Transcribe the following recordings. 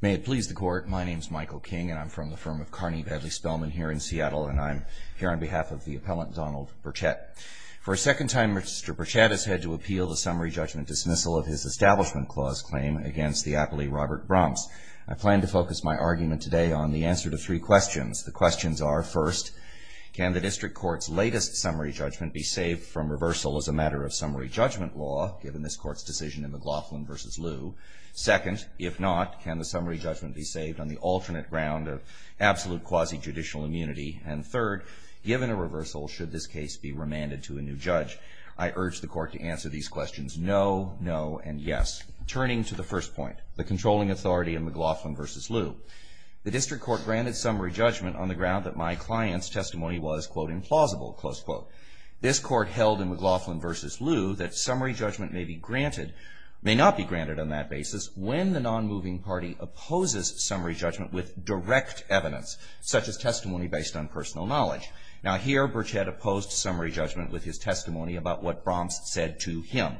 May it please the Court, my name is Michael King, and I'm from the firm of Carney-Badley Spellman here in Seattle, and I'm here on behalf of the appellant Donald Burchett. For a second time, Mr. Burchett has had to appeal the summary judgment dismissal of his Establishment Clause claim against the aptly Robert Bromps. I plan to focus my argument today on the answer to three questions. The questions are, first, can the District Court's latest summary judgment be saved from reversal as a matter of summary judgment law, given this Court's decision in McLaughlin v. Liu? Second, if not, can the summary judgment be saved on the alternate ground of absolute quasi-judicial immunity? And third, given a reversal, should this case be remanded to a new judge? I urge the Court to answer these questions no, no, and yes. Turning to the first point, the controlling authority in McLaughlin v. Liu, the District Court granted summary judgment on the ground that my client's testimony was, quote, implausible, close quote. This Court held in McLaughlin v. Liu that summary judgment may be granted, may not be granted on that basis, when the non-moving party opposes summary judgment with direct evidence, such as testimony based on personal knowledge. Now here, Burchett opposed summary judgment with his testimony about what Bromps said to him.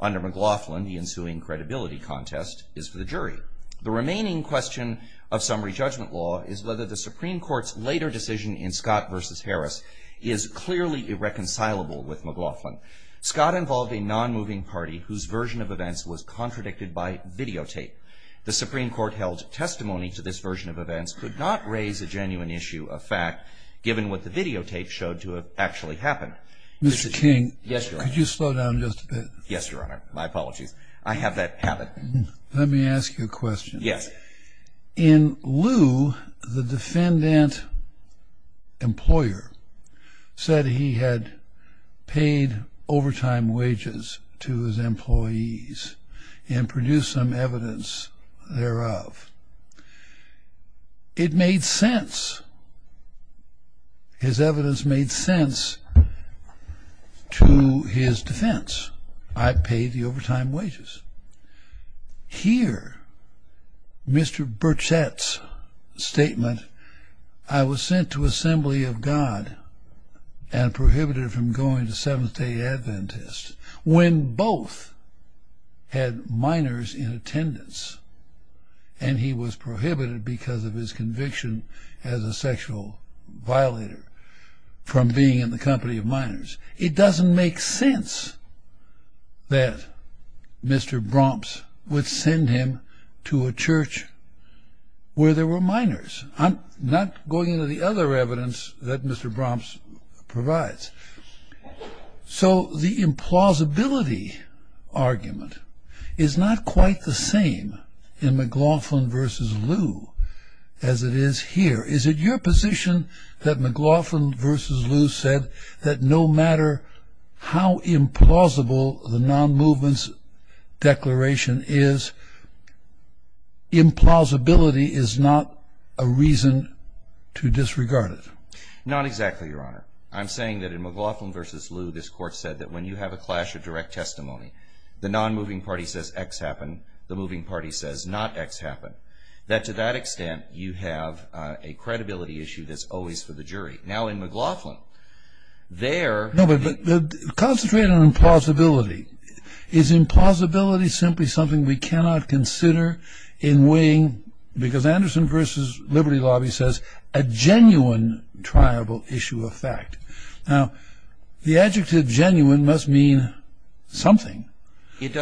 Under McLaughlin, the ensuing credibility contest is for the jury. The remaining question of summary judgment law is whether the Supreme Court's later decision in Scott v. Harris is clearly irreconcilable with McLaughlin. Scott involved a non-moving party whose version of events was contradicted by videotape. The Supreme Court held testimony to this version of events could not raise a genuine issue of fact, given what the videotape showed to have actually happened. Mr. King. Yes, Your Honor. Could you slow down just a bit? Yes, Your Honor. My apologies. I have that habit. Let me ask you a question. Yes. In Liu, the defendant employer said he had paid overtime wages to his employees and produced some evidence thereof. It made sense. His evidence made sense to his defense. I paid the overtime wages. Here, Mr. Burchett's statement, I was sent to assembly of God and prohibited from going to Seventh-day Adventist, when both had minors in attendance, and he was prohibited because of his conviction as a sexual violator from being in the company of minors. It doesn't make sense that Mr. Bromps would send him to a church where there were minors. I'm not going into the other evidence that Mr. Bromps provides. So the implausibility argument is not quite the same in McLaughlin v. Liu as it is here. Is it your position that McLaughlin v. Liu said that no matter how implausible the non-movement's declaration is, implausibility is not a reason to disregard it? Not exactly, Your Honor. I'm saying that in McLaughlin v. Liu, this Court said that when you have a clash of direct testimony, the non-moving party says X happened, the moving party says not X happened, that to that extent you have a credibility issue that's always for the jury. Now in McLaughlin, there... No, but concentrate on implausibility. Is implausibility simply something we cannot consider in weighing, because Anderson v. Liberty Lobby says, a genuine triable issue of fact. Now, the adjective genuine must mean something.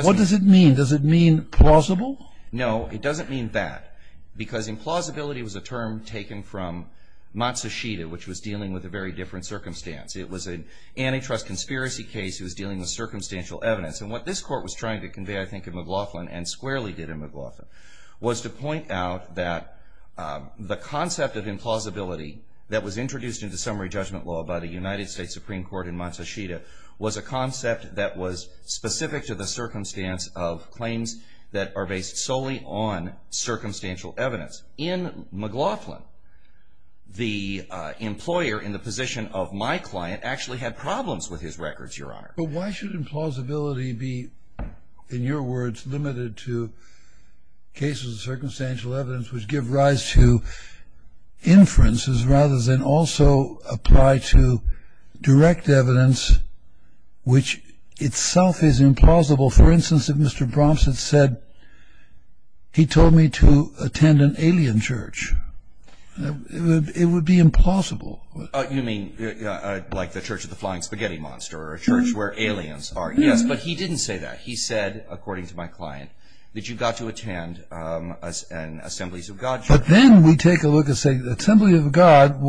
What does it mean? Does it mean plausible? No, it doesn't mean that, because implausibility was a term taken from Matsushita, which was dealing with a very different circumstance. It was an antitrust conspiracy case. It was dealing with circumstantial evidence. And what this Court was trying to convey, I think, in McLaughlin, and squarely did in McLaughlin, was to point out that the concept of implausibility that was introduced into summary judgment law by the United States Supreme Court in Matsushita was a concept that was specific to the circumstance of claims that are based solely on circumstantial evidence. In McLaughlin, the employer in the position of my client actually had problems with his records, Your Honor. But why should implausibility be, in your words, limited to cases of circumstantial evidence which give rise to inferences, rather than also apply to direct evidence which itself is implausible? For instance, if Mr. Bronson said he told me to attend an alien church, it would be implausible. You mean like the Church of the Flying Spaghetti Monster, or a church where aliens are? Yes, but he didn't say that. He said, according to my client, that you got to attend an Assemblies of God church. But then we take a look and say, Assembly of God,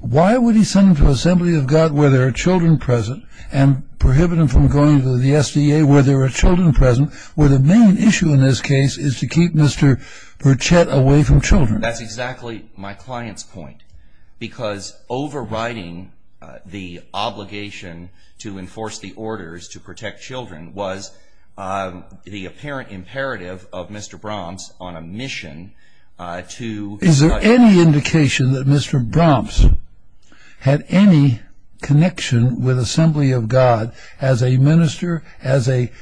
why would he send them to Assembly of God where there are children present and prohibit them from going to the SDA where there are children present, where the main issue in this case is to keep Mr. Burchett away from children? That's exactly my client's point. Because overriding the obligation to enforce the orders to protect children was the apparent imperative of Mr. Bronson on a mission to- Is there any indication that Mr. Bronson had any connection with Assembly of God as a minister, as a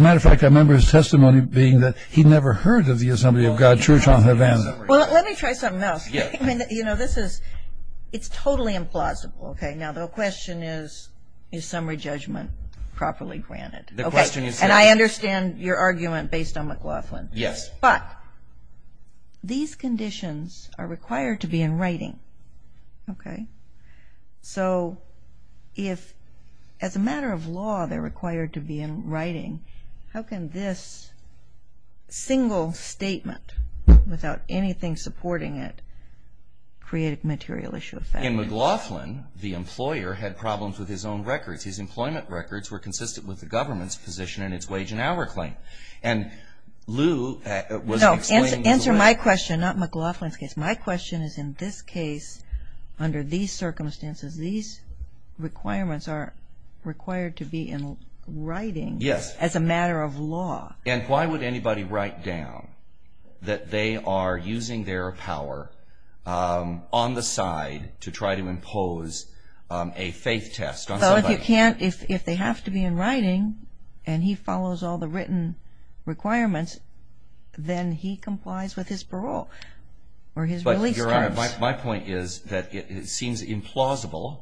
matter of fact, I remember his testimony being that he never heard of the Assembly of God church on Havana. Well, let me try something else. You know, this is, it's totally implausible. Okay, now the question is, is summary judgment properly granted? The question is- And I understand your argument based on McLaughlin. Yes. But, these conditions are required to be in writing, okay? So, if as a matter of law they're required to be in writing, how can this single statement without anything supporting it create a material issue of family? In McLaughlin, the employer had problems with his own records. His employment records were consistent with the government's position in its wage and hour claim. And Lou was explaining- No, answer my question, not McLaughlin's case. My question is in this case, under these circumstances, these requirements are required to be in writing- Yes. As a matter of law. And why would anybody write down that they are using their power on the side to try to impose a faith test on somebody? Well, if they have to be in writing and he follows all the written requirements, then he complies with his parole or his release terms. But, Your Honor, my point is that it seems implausible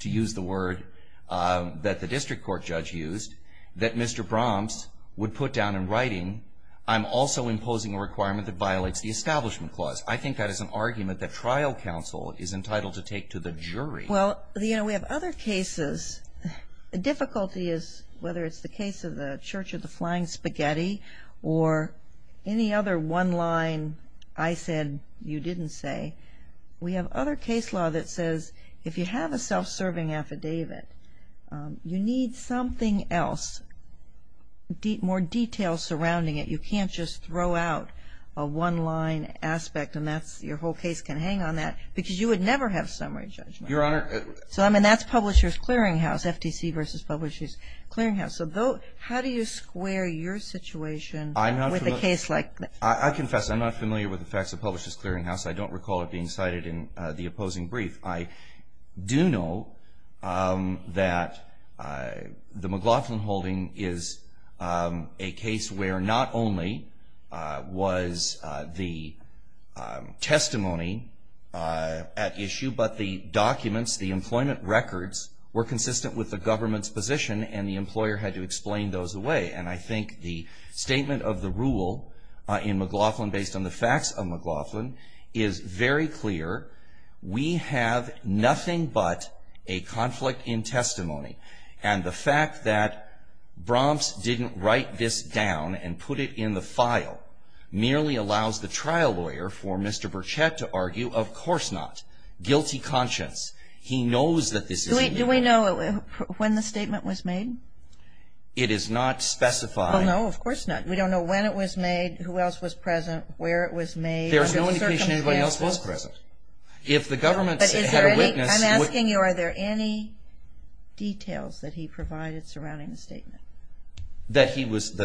to use the word that the district court judge used that Mr. Bromps would put down in writing, I'm also imposing a requirement that violates the Establishment Clause. I think that is an argument that trial counsel is entitled to take to the jury. Well, you know, we have other cases. The difficulty is, whether it's the case of the Church of the Flying Spaghetti or any other one line I said you didn't say, we have other case law that says if you have a self-serving affidavit, you need something else, more detail surrounding it. You can't just throw out a one-line aspect and your whole case can hang on that because you would never have summary judgment. Your Honor. So, I mean, that's Publishers Clearinghouse, FTC versus Publishers Clearinghouse. So how do you square your situation with a case like that? I confess I'm not familiar with the facts of Publishers Clearinghouse. I don't recall it being cited in the opposing brief. I do know that the McLaughlin holding is a case where not only was the testimony at issue but the documents, the employment records were consistent with the government's position and the employer had to explain those away. And I think the statement of the rule in McLaughlin based on the facts of McLaughlin is very clear. We have nothing but a conflict in testimony. And the fact that Bromps didn't write this down and put it in the file merely allows the trial lawyer for Mr. Burchett to argue, of course not. Guilty conscience. He knows that this isn't true. Do we know when the statement was made? It is not specified. Well, no, of course not. We don't know when it was made, who else was present, where it was made. There's no indication anybody else was present. If the government had a witness. I'm asking you, are there any details that he provided surrounding the statement? That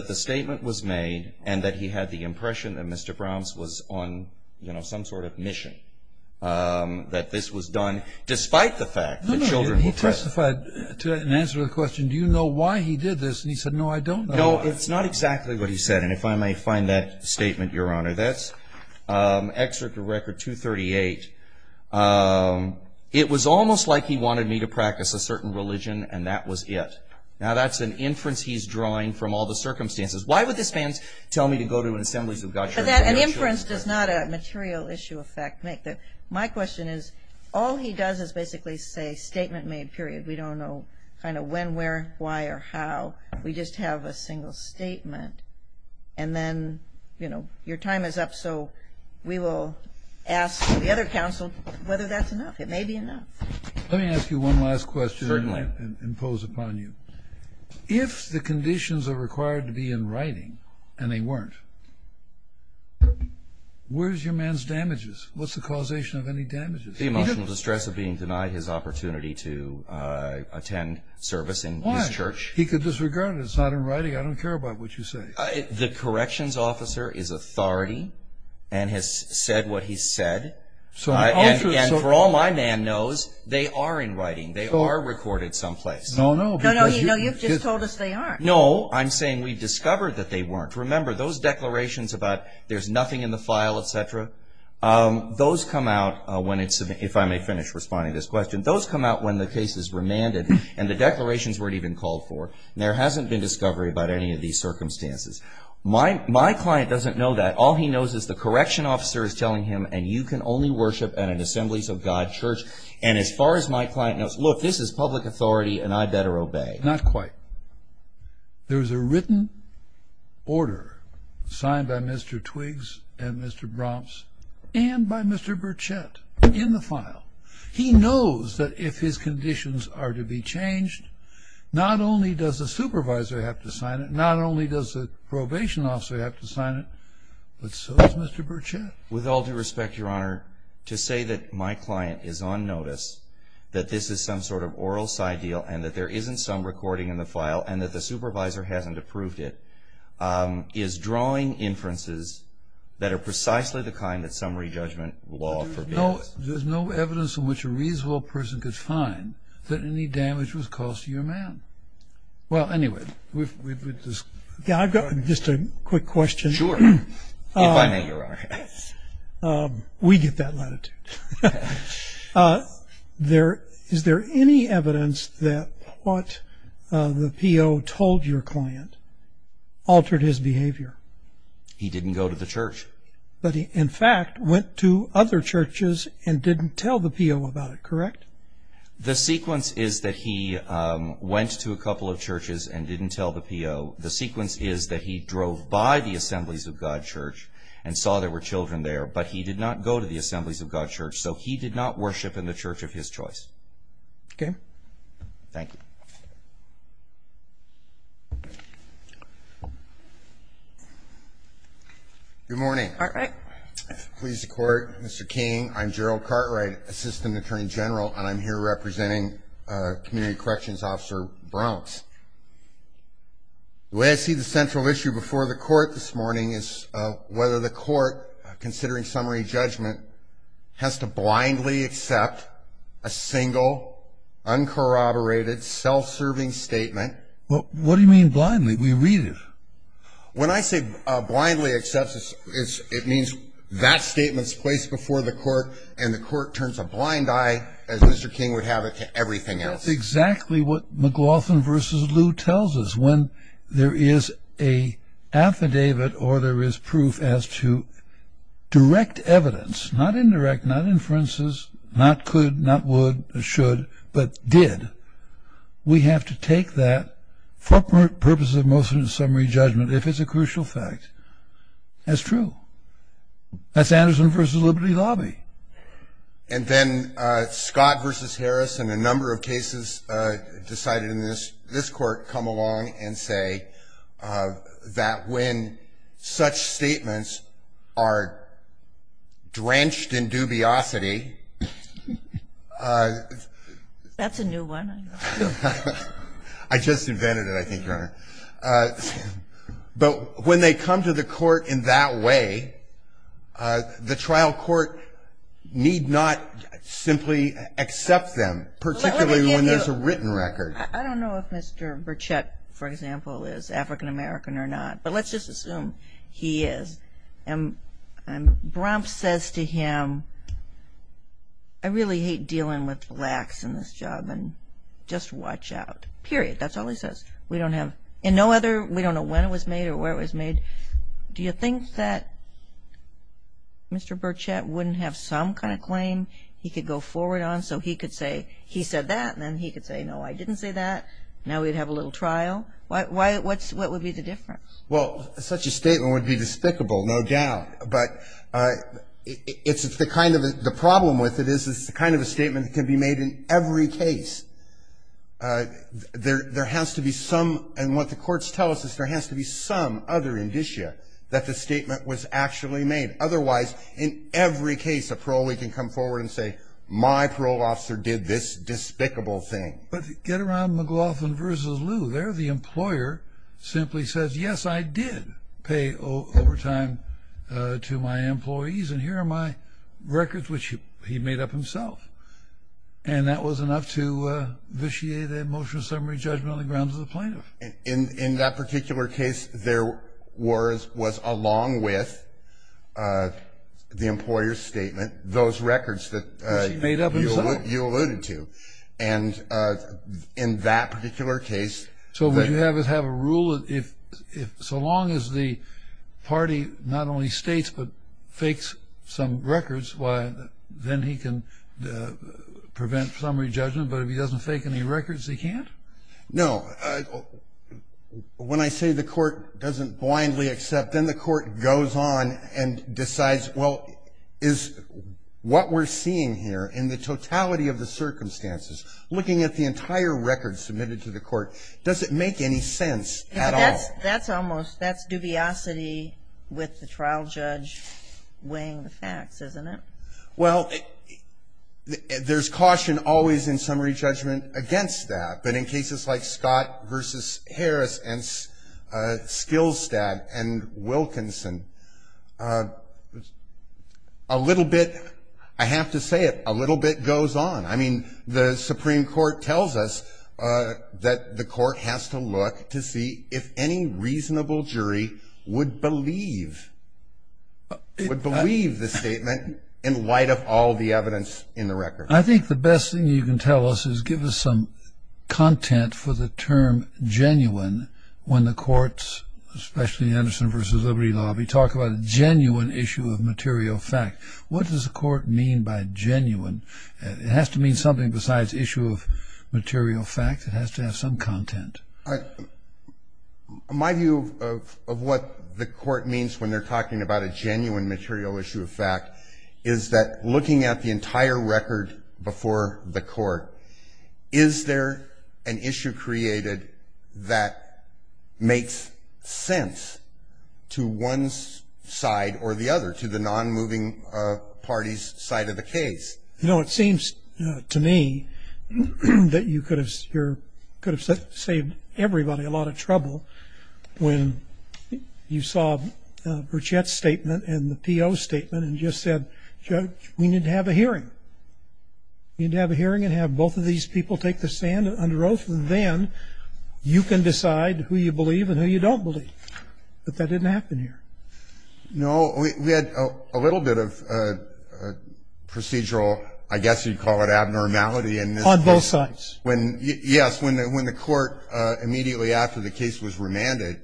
the statement was made and that he had the impression that Mr. Bromps was on some sort of mission. That this was done despite the fact that children were present. He testified in answer to the question, do you know why he did this? And he said, no, I don't. No, it's not exactly what he said. And if I may find that statement, Your Honor. That's Excerpt of Record 238. It was almost like he wanted me to practice a certain religion and that was it. Now, that's an inference he's drawing from all the circumstances. Why would this man tell me to go to an assembly of God's children? An inference does not a material issue effect make. My question is, all he does is basically say statement made, period. We don't know kind of when, where, why, or how. We just have a single statement. And then, you know, your time is up, so we will ask the other counsel whether that's enough. It may be enough. Let me ask you one last question. Certainly. And impose upon you. If the conditions are required to be in writing and they weren't, where's your man's damages? What's the causation of any damages? The emotional distress of being denied his opportunity to attend service in his church. Why? He could disregard it. It's not in writing. I don't care about what you say. The corrections officer is authority and has said what he said. And for all my man knows, they are in writing. They are recorded someplace. No, no. No, you've just told us they aren't. No, I'm saying we've discovered that they weren't. Remember, those declarations about there's nothing in the file, et cetera, those come out when it's, if I may finish responding to this question, those come out when the case is remanded and the declarations weren't even called for. There hasn't been discovery about any of these circumstances. My client doesn't know that. All he knows is the correction officer is telling him, and you can only worship at an Assemblies of God church. And as far as my client knows, look, this is public authority and I better obey. Not quite. There's a written order signed by Mr. Twiggs and Mr. Bromps and by Mr. Burchett in the file. He knows that if his conditions are to be changed, not only does the supervisor have to sign it, not only does the probation officer have to sign it, but so does Mr. Burchett. With all due respect, Your Honor, to say that my client is on notice, that this is some sort of oral side deal and that there isn't some recording in the file and that the supervisor hasn't approved it, is drawing inferences that are precisely the kind that summary judgment law forbids. There's no evidence in which a reasonable person could find that any damage was caused to your man. Well, anyway, we've discussed. Just a quick question. Sure. If I may, Your Honor. We get that latitude. Is there any evidence that what the P.O. told your client altered his behavior? He didn't go to the church. But he, in fact, went to other churches and didn't tell the P.O. about it, correct? The sequence is that he went to a couple of churches and didn't tell the P.O. The sequence is that he drove by the Assemblies of God Church and saw there were children there, but he did not go to the Assemblies of God Church, so he did not worship in the church of his choice. Okay. Thank you. Good morning. Cartwright. Pleased to court. Mr. King, I'm Gerald Cartwright, Assistant Attorney General, and I'm here representing Community Corrections Officer Bronx. The way I see the central issue before the court this morning is whether the court, considering summary judgment, has to blindly accept a single, uncorroborated, self-serving statement. What do you mean blindly? We read it. When I say blindly accept, it means that statement is placed before the court and the court turns a blind eye, as Mr. King would have it, to everything else. That's exactly what McLaughlin v. Lou tells us. When there is an affidavit or there is proof as to direct evidence, not indirect, not inferences, not could, not would, should, but did, we have to take that for purposes of motion of summary judgment if it's a crucial fact. That's true. That's Anderson v. Liberty Lobby. And then Scott v. Harris and a number of cases decided in this court come along and say that when such statements are drenched in dubiosity. That's a new one. But when they come to the court in that way, the trial court need not simply accept them, particularly when there's a written record. I don't know if Mr. Burchett, for example, is African American or not, but let's just assume he is. And Bromps says to him, I really hate dealing with blacks in this job and just watch out, period. That's all he says. We don't have, and no other, we don't know when it was made or where it was made. Do you think that Mr. Burchett wouldn't have some kind of claim he could go forward on so he could say, he said that and then he could say, no, I didn't say that, now we'd have a little trial? What would be the difference? Well, such a statement would be despicable, no doubt. But it's the kind of, the problem with it is it's the kind of a statement that can be made in every case. There has to be some, and what the courts tell us, is there has to be some other indicia that the statement was actually made. Otherwise, in every case a parolee can come forward and say, my parole officer did this despicable thing. But get around McLaughlin versus Lew. There the employer simply says, yes, I did pay overtime to my employees, and here are my records, which he made up himself. And that was enough to vitiate a motion of summary judgment on the grounds of the plaintiff. In that particular case, there was, along with the employer's statement, those records that you alluded to. And in that particular case. So what you have is have a rule, so long as the party not only states but fakes some records, then he can prevent summary judgment. But if he doesn't fake any records, he can't? No. When I say the court doesn't blindly accept, then the court goes on and decides, well, is what we're seeing here in the totality of the circumstances, looking at the entire record submitted to the court, does it make any sense at all? That's almost, that's dubiosity with the trial judge weighing the facts, isn't it? Well, there's caution always in summary judgment against that. But in cases like Scott versus Harris and Skilstad and Wilkinson, a little bit, I have to say it, a little bit goes on. I mean, the Supreme Court tells us that the court has to look to see if any reasonable jury would believe, would believe the statement in light of all the evidence in the record. I think the best thing you can tell us is give us some content for the term genuine when the courts, especially in the Anderson versus Liberty lobby, talk about a genuine issue of material fact. What does the court mean by genuine? It has to mean something besides issue of material fact. It has to have some content. My view of what the court means when they're talking about a genuine material issue of fact is that looking at the entire record before the court, is there an issue created that makes sense to one side or the other, to the non-moving party's side of the case? You know, it seems to me that you could have saved everybody a lot of trouble when you saw Burchette's statement and the PO's statement and just said, Judge, we need to have a hearing. We need to have a hearing and have both of these people take the stand under oath, and then you can decide who you believe and who you don't believe. But that didn't happen here. No. We had a little bit of procedural, I guess you'd call it abnormality in this case. On both sides. Yes. When the court, immediately after the case was remanded,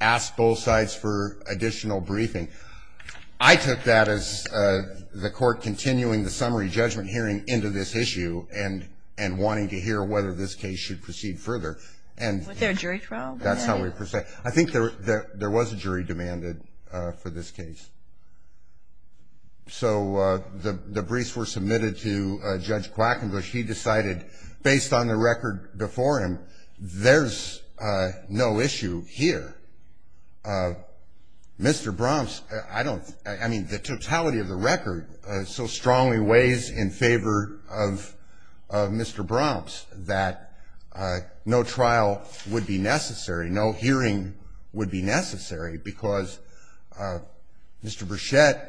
asked both sides for additional briefing, I took that as the court continuing the summary judgment hearing into this issue and wanting to hear whether this case should proceed further. Was there a jury trial? That's how we proceed. I think there was a jury demanded for this case. So the briefs were submitted to Judge Quackenglish. He decided, based on the record before him, there's no issue here. Mr. Bromps, I mean, the totality of the record so strongly weighs in favor of Mr. Bromps, that no trial would be necessary, no hearing would be necessary, because Mr. Burchette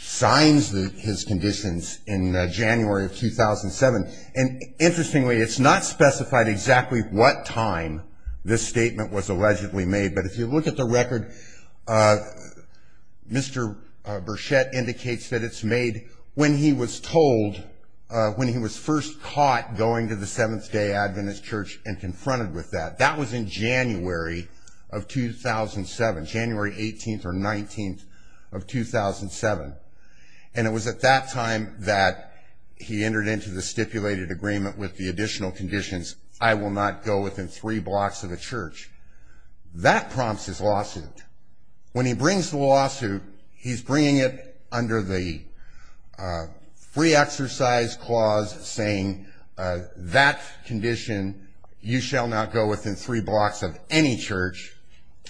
signs his conditions in January of 2007. And interestingly, it's not specified exactly what time this statement was allegedly made. But if you look at the record, Mr. Burchette indicates that it's made when he was told, when he was first caught going to the Seventh-day Adventist church and confronted with that. That was in January of 2007, January 18th or 19th of 2007. And it was at that time that he entered into the stipulated agreement with the additional conditions, I will not go within three blocks of a church. That prompts his lawsuit. When he brings the lawsuit, he's bringing it under the free exercise clause, saying that condition, you shall not go within three blocks of any church,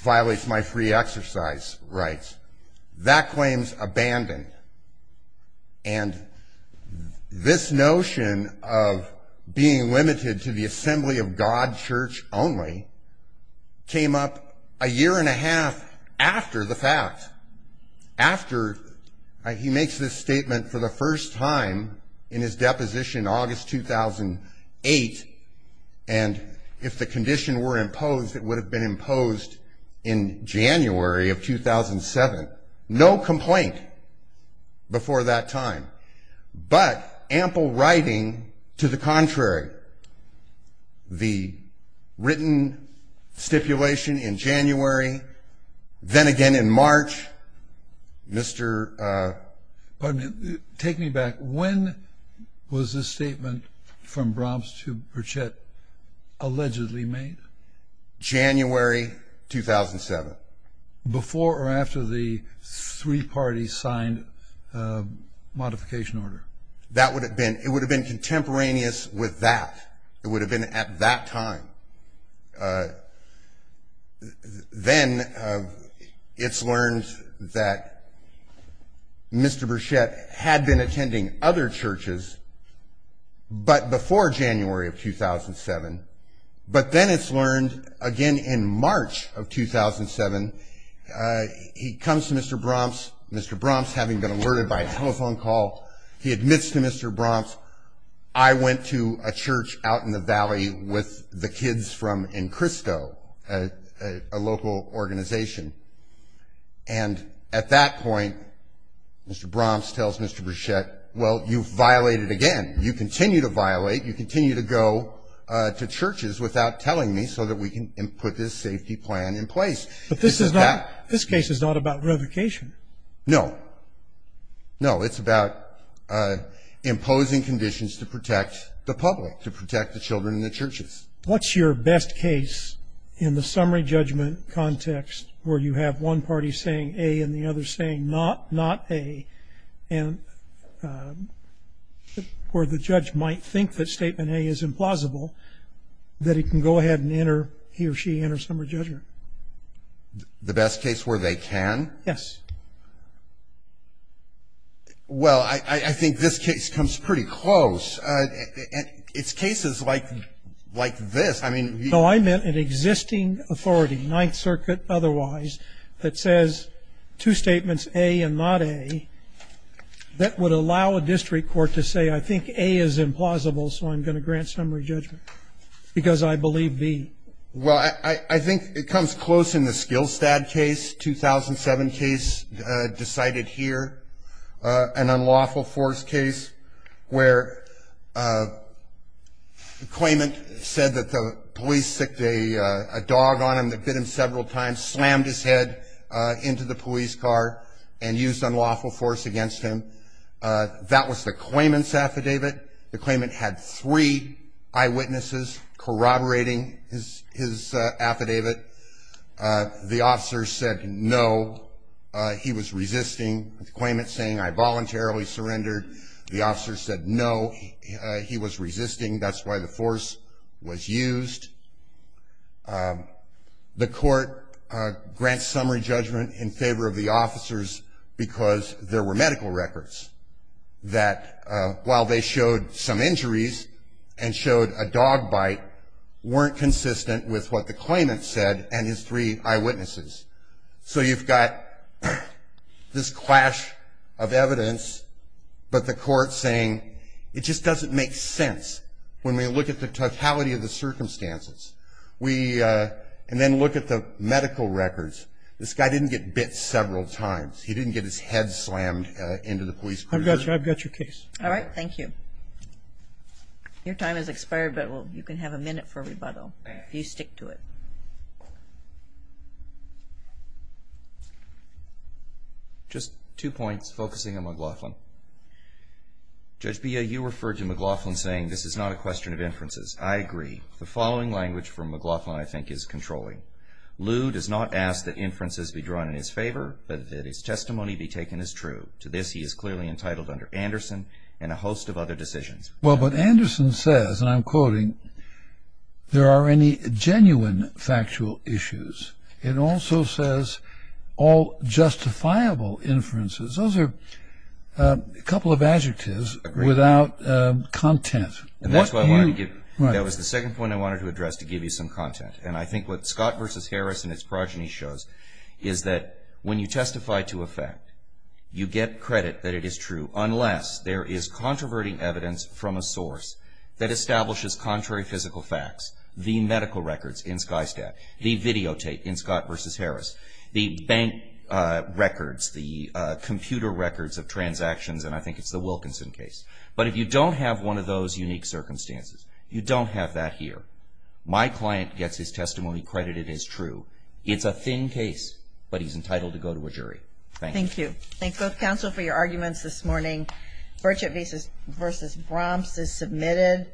violates my free exercise rights. That claim's abandoned. And this notion of being limited to the assembly of God, church only, came up a year and a half after the fact. After he makes this statement for the first time in his deposition, August 2008, and if the condition were imposed, it would have been imposed in January of 2007. No complaint before that time, but ample writing to the contrary. The written stipulation in January, then again in March, Mr. Pardon me. Take me back. When was this statement from Bromps to Burchette allegedly made? January 2007. Before or after the three parties signed modification order? That would have been, it would have been contemporaneous with that. It would have been at that time. Then it's learned that Mr. Burchette had been attending other churches, but before January of 2007. But then it's learned, again in March of 2007, he comes to Mr. Bromps, Mr. Bromps having been alerted by a telephone call, he admits to Mr. Bromps, I went to a church out in the valley with the kids from Encrisco, a local organization. And at that point, Mr. Bromps tells Mr. Burchette, well, you've violated again. You continue to violate. You continue to go to churches without telling me so that we can put this safety plan in place. But this is not, this case is not about revocation. No. No, it's about imposing conditions to protect the public, to protect the children in the churches. What's your best case in the summary judgment context where you have one party saying A and the other saying not A and where the judge might think that statement A is implausible, that he can go ahead and enter, he or she enters summary judgment? The best case where they can? Yes. Well, I think this case comes pretty close. It's cases like this. No, I meant an existing authority, Ninth Circuit otherwise, that says two statements, A and not A, that would allow a district court to say I think A is implausible, so I'm going to grant summary judgment because I believe B. Well, I think it comes close in the Skillstad case, 2007 case decided here, an unlawful force case where the claimant said that the police sicced a dog on him that bit him several times, slammed his head into the police car and used unlawful force against him. That was the claimant's affidavit. The claimant had three eyewitnesses corroborating his affidavit. The officer said no. He was resisting, the claimant saying I voluntarily surrendered. The officer said no. He was resisting. That's why the force was used. The court grants summary judgment in favor of the officers because there were medical records that while they showed some injuries and showed a dog bite, weren't consistent with what the claimant said and his three eyewitnesses. So you've got this clash of evidence, but the court saying it just doesn't make sense when we look at the totality of the circumstances and then look at the medical records. This guy didn't get bit several times. He didn't get his head slammed into the police car. I've got your case. All right. Thank you. Your time has expired, but you can have a minute for rebuttal if you stick to it. Just two points focusing on McLaughlin. Judge Bea, you referred to McLaughlin saying this is not a question of inferences. I agree. The following language from McLaughlin I think is controlling. Lew does not ask that inferences be drawn in his favor, but that his testimony be taken as true. To this he is clearly entitled under Anderson and a host of other decisions. Well, but Anderson says, and I'm quoting, there are any genuine factual issues. It also says all justifiable inferences. Those are a couple of adjectives without content. That was the second point I wanted to address to give you some content. And I think what Scott v. Harris and his progeny shows is that when you testify to a fact, you get credit that it is true unless there is controverting evidence from a source that establishes contrary physical facts, the medical records in Skystat, the videotape in Scott v. Harris, the bank records, the computer records of transactions, and I think it's the Wilkinson case. But if you don't have one of those unique circumstances, you don't have that here. My client gets his testimony credited as true. It's a thin case, but he's entitled to go to a jury. Thank you. Thank you both counsel for your arguments this morning. Birchett v. Bromps is submitted.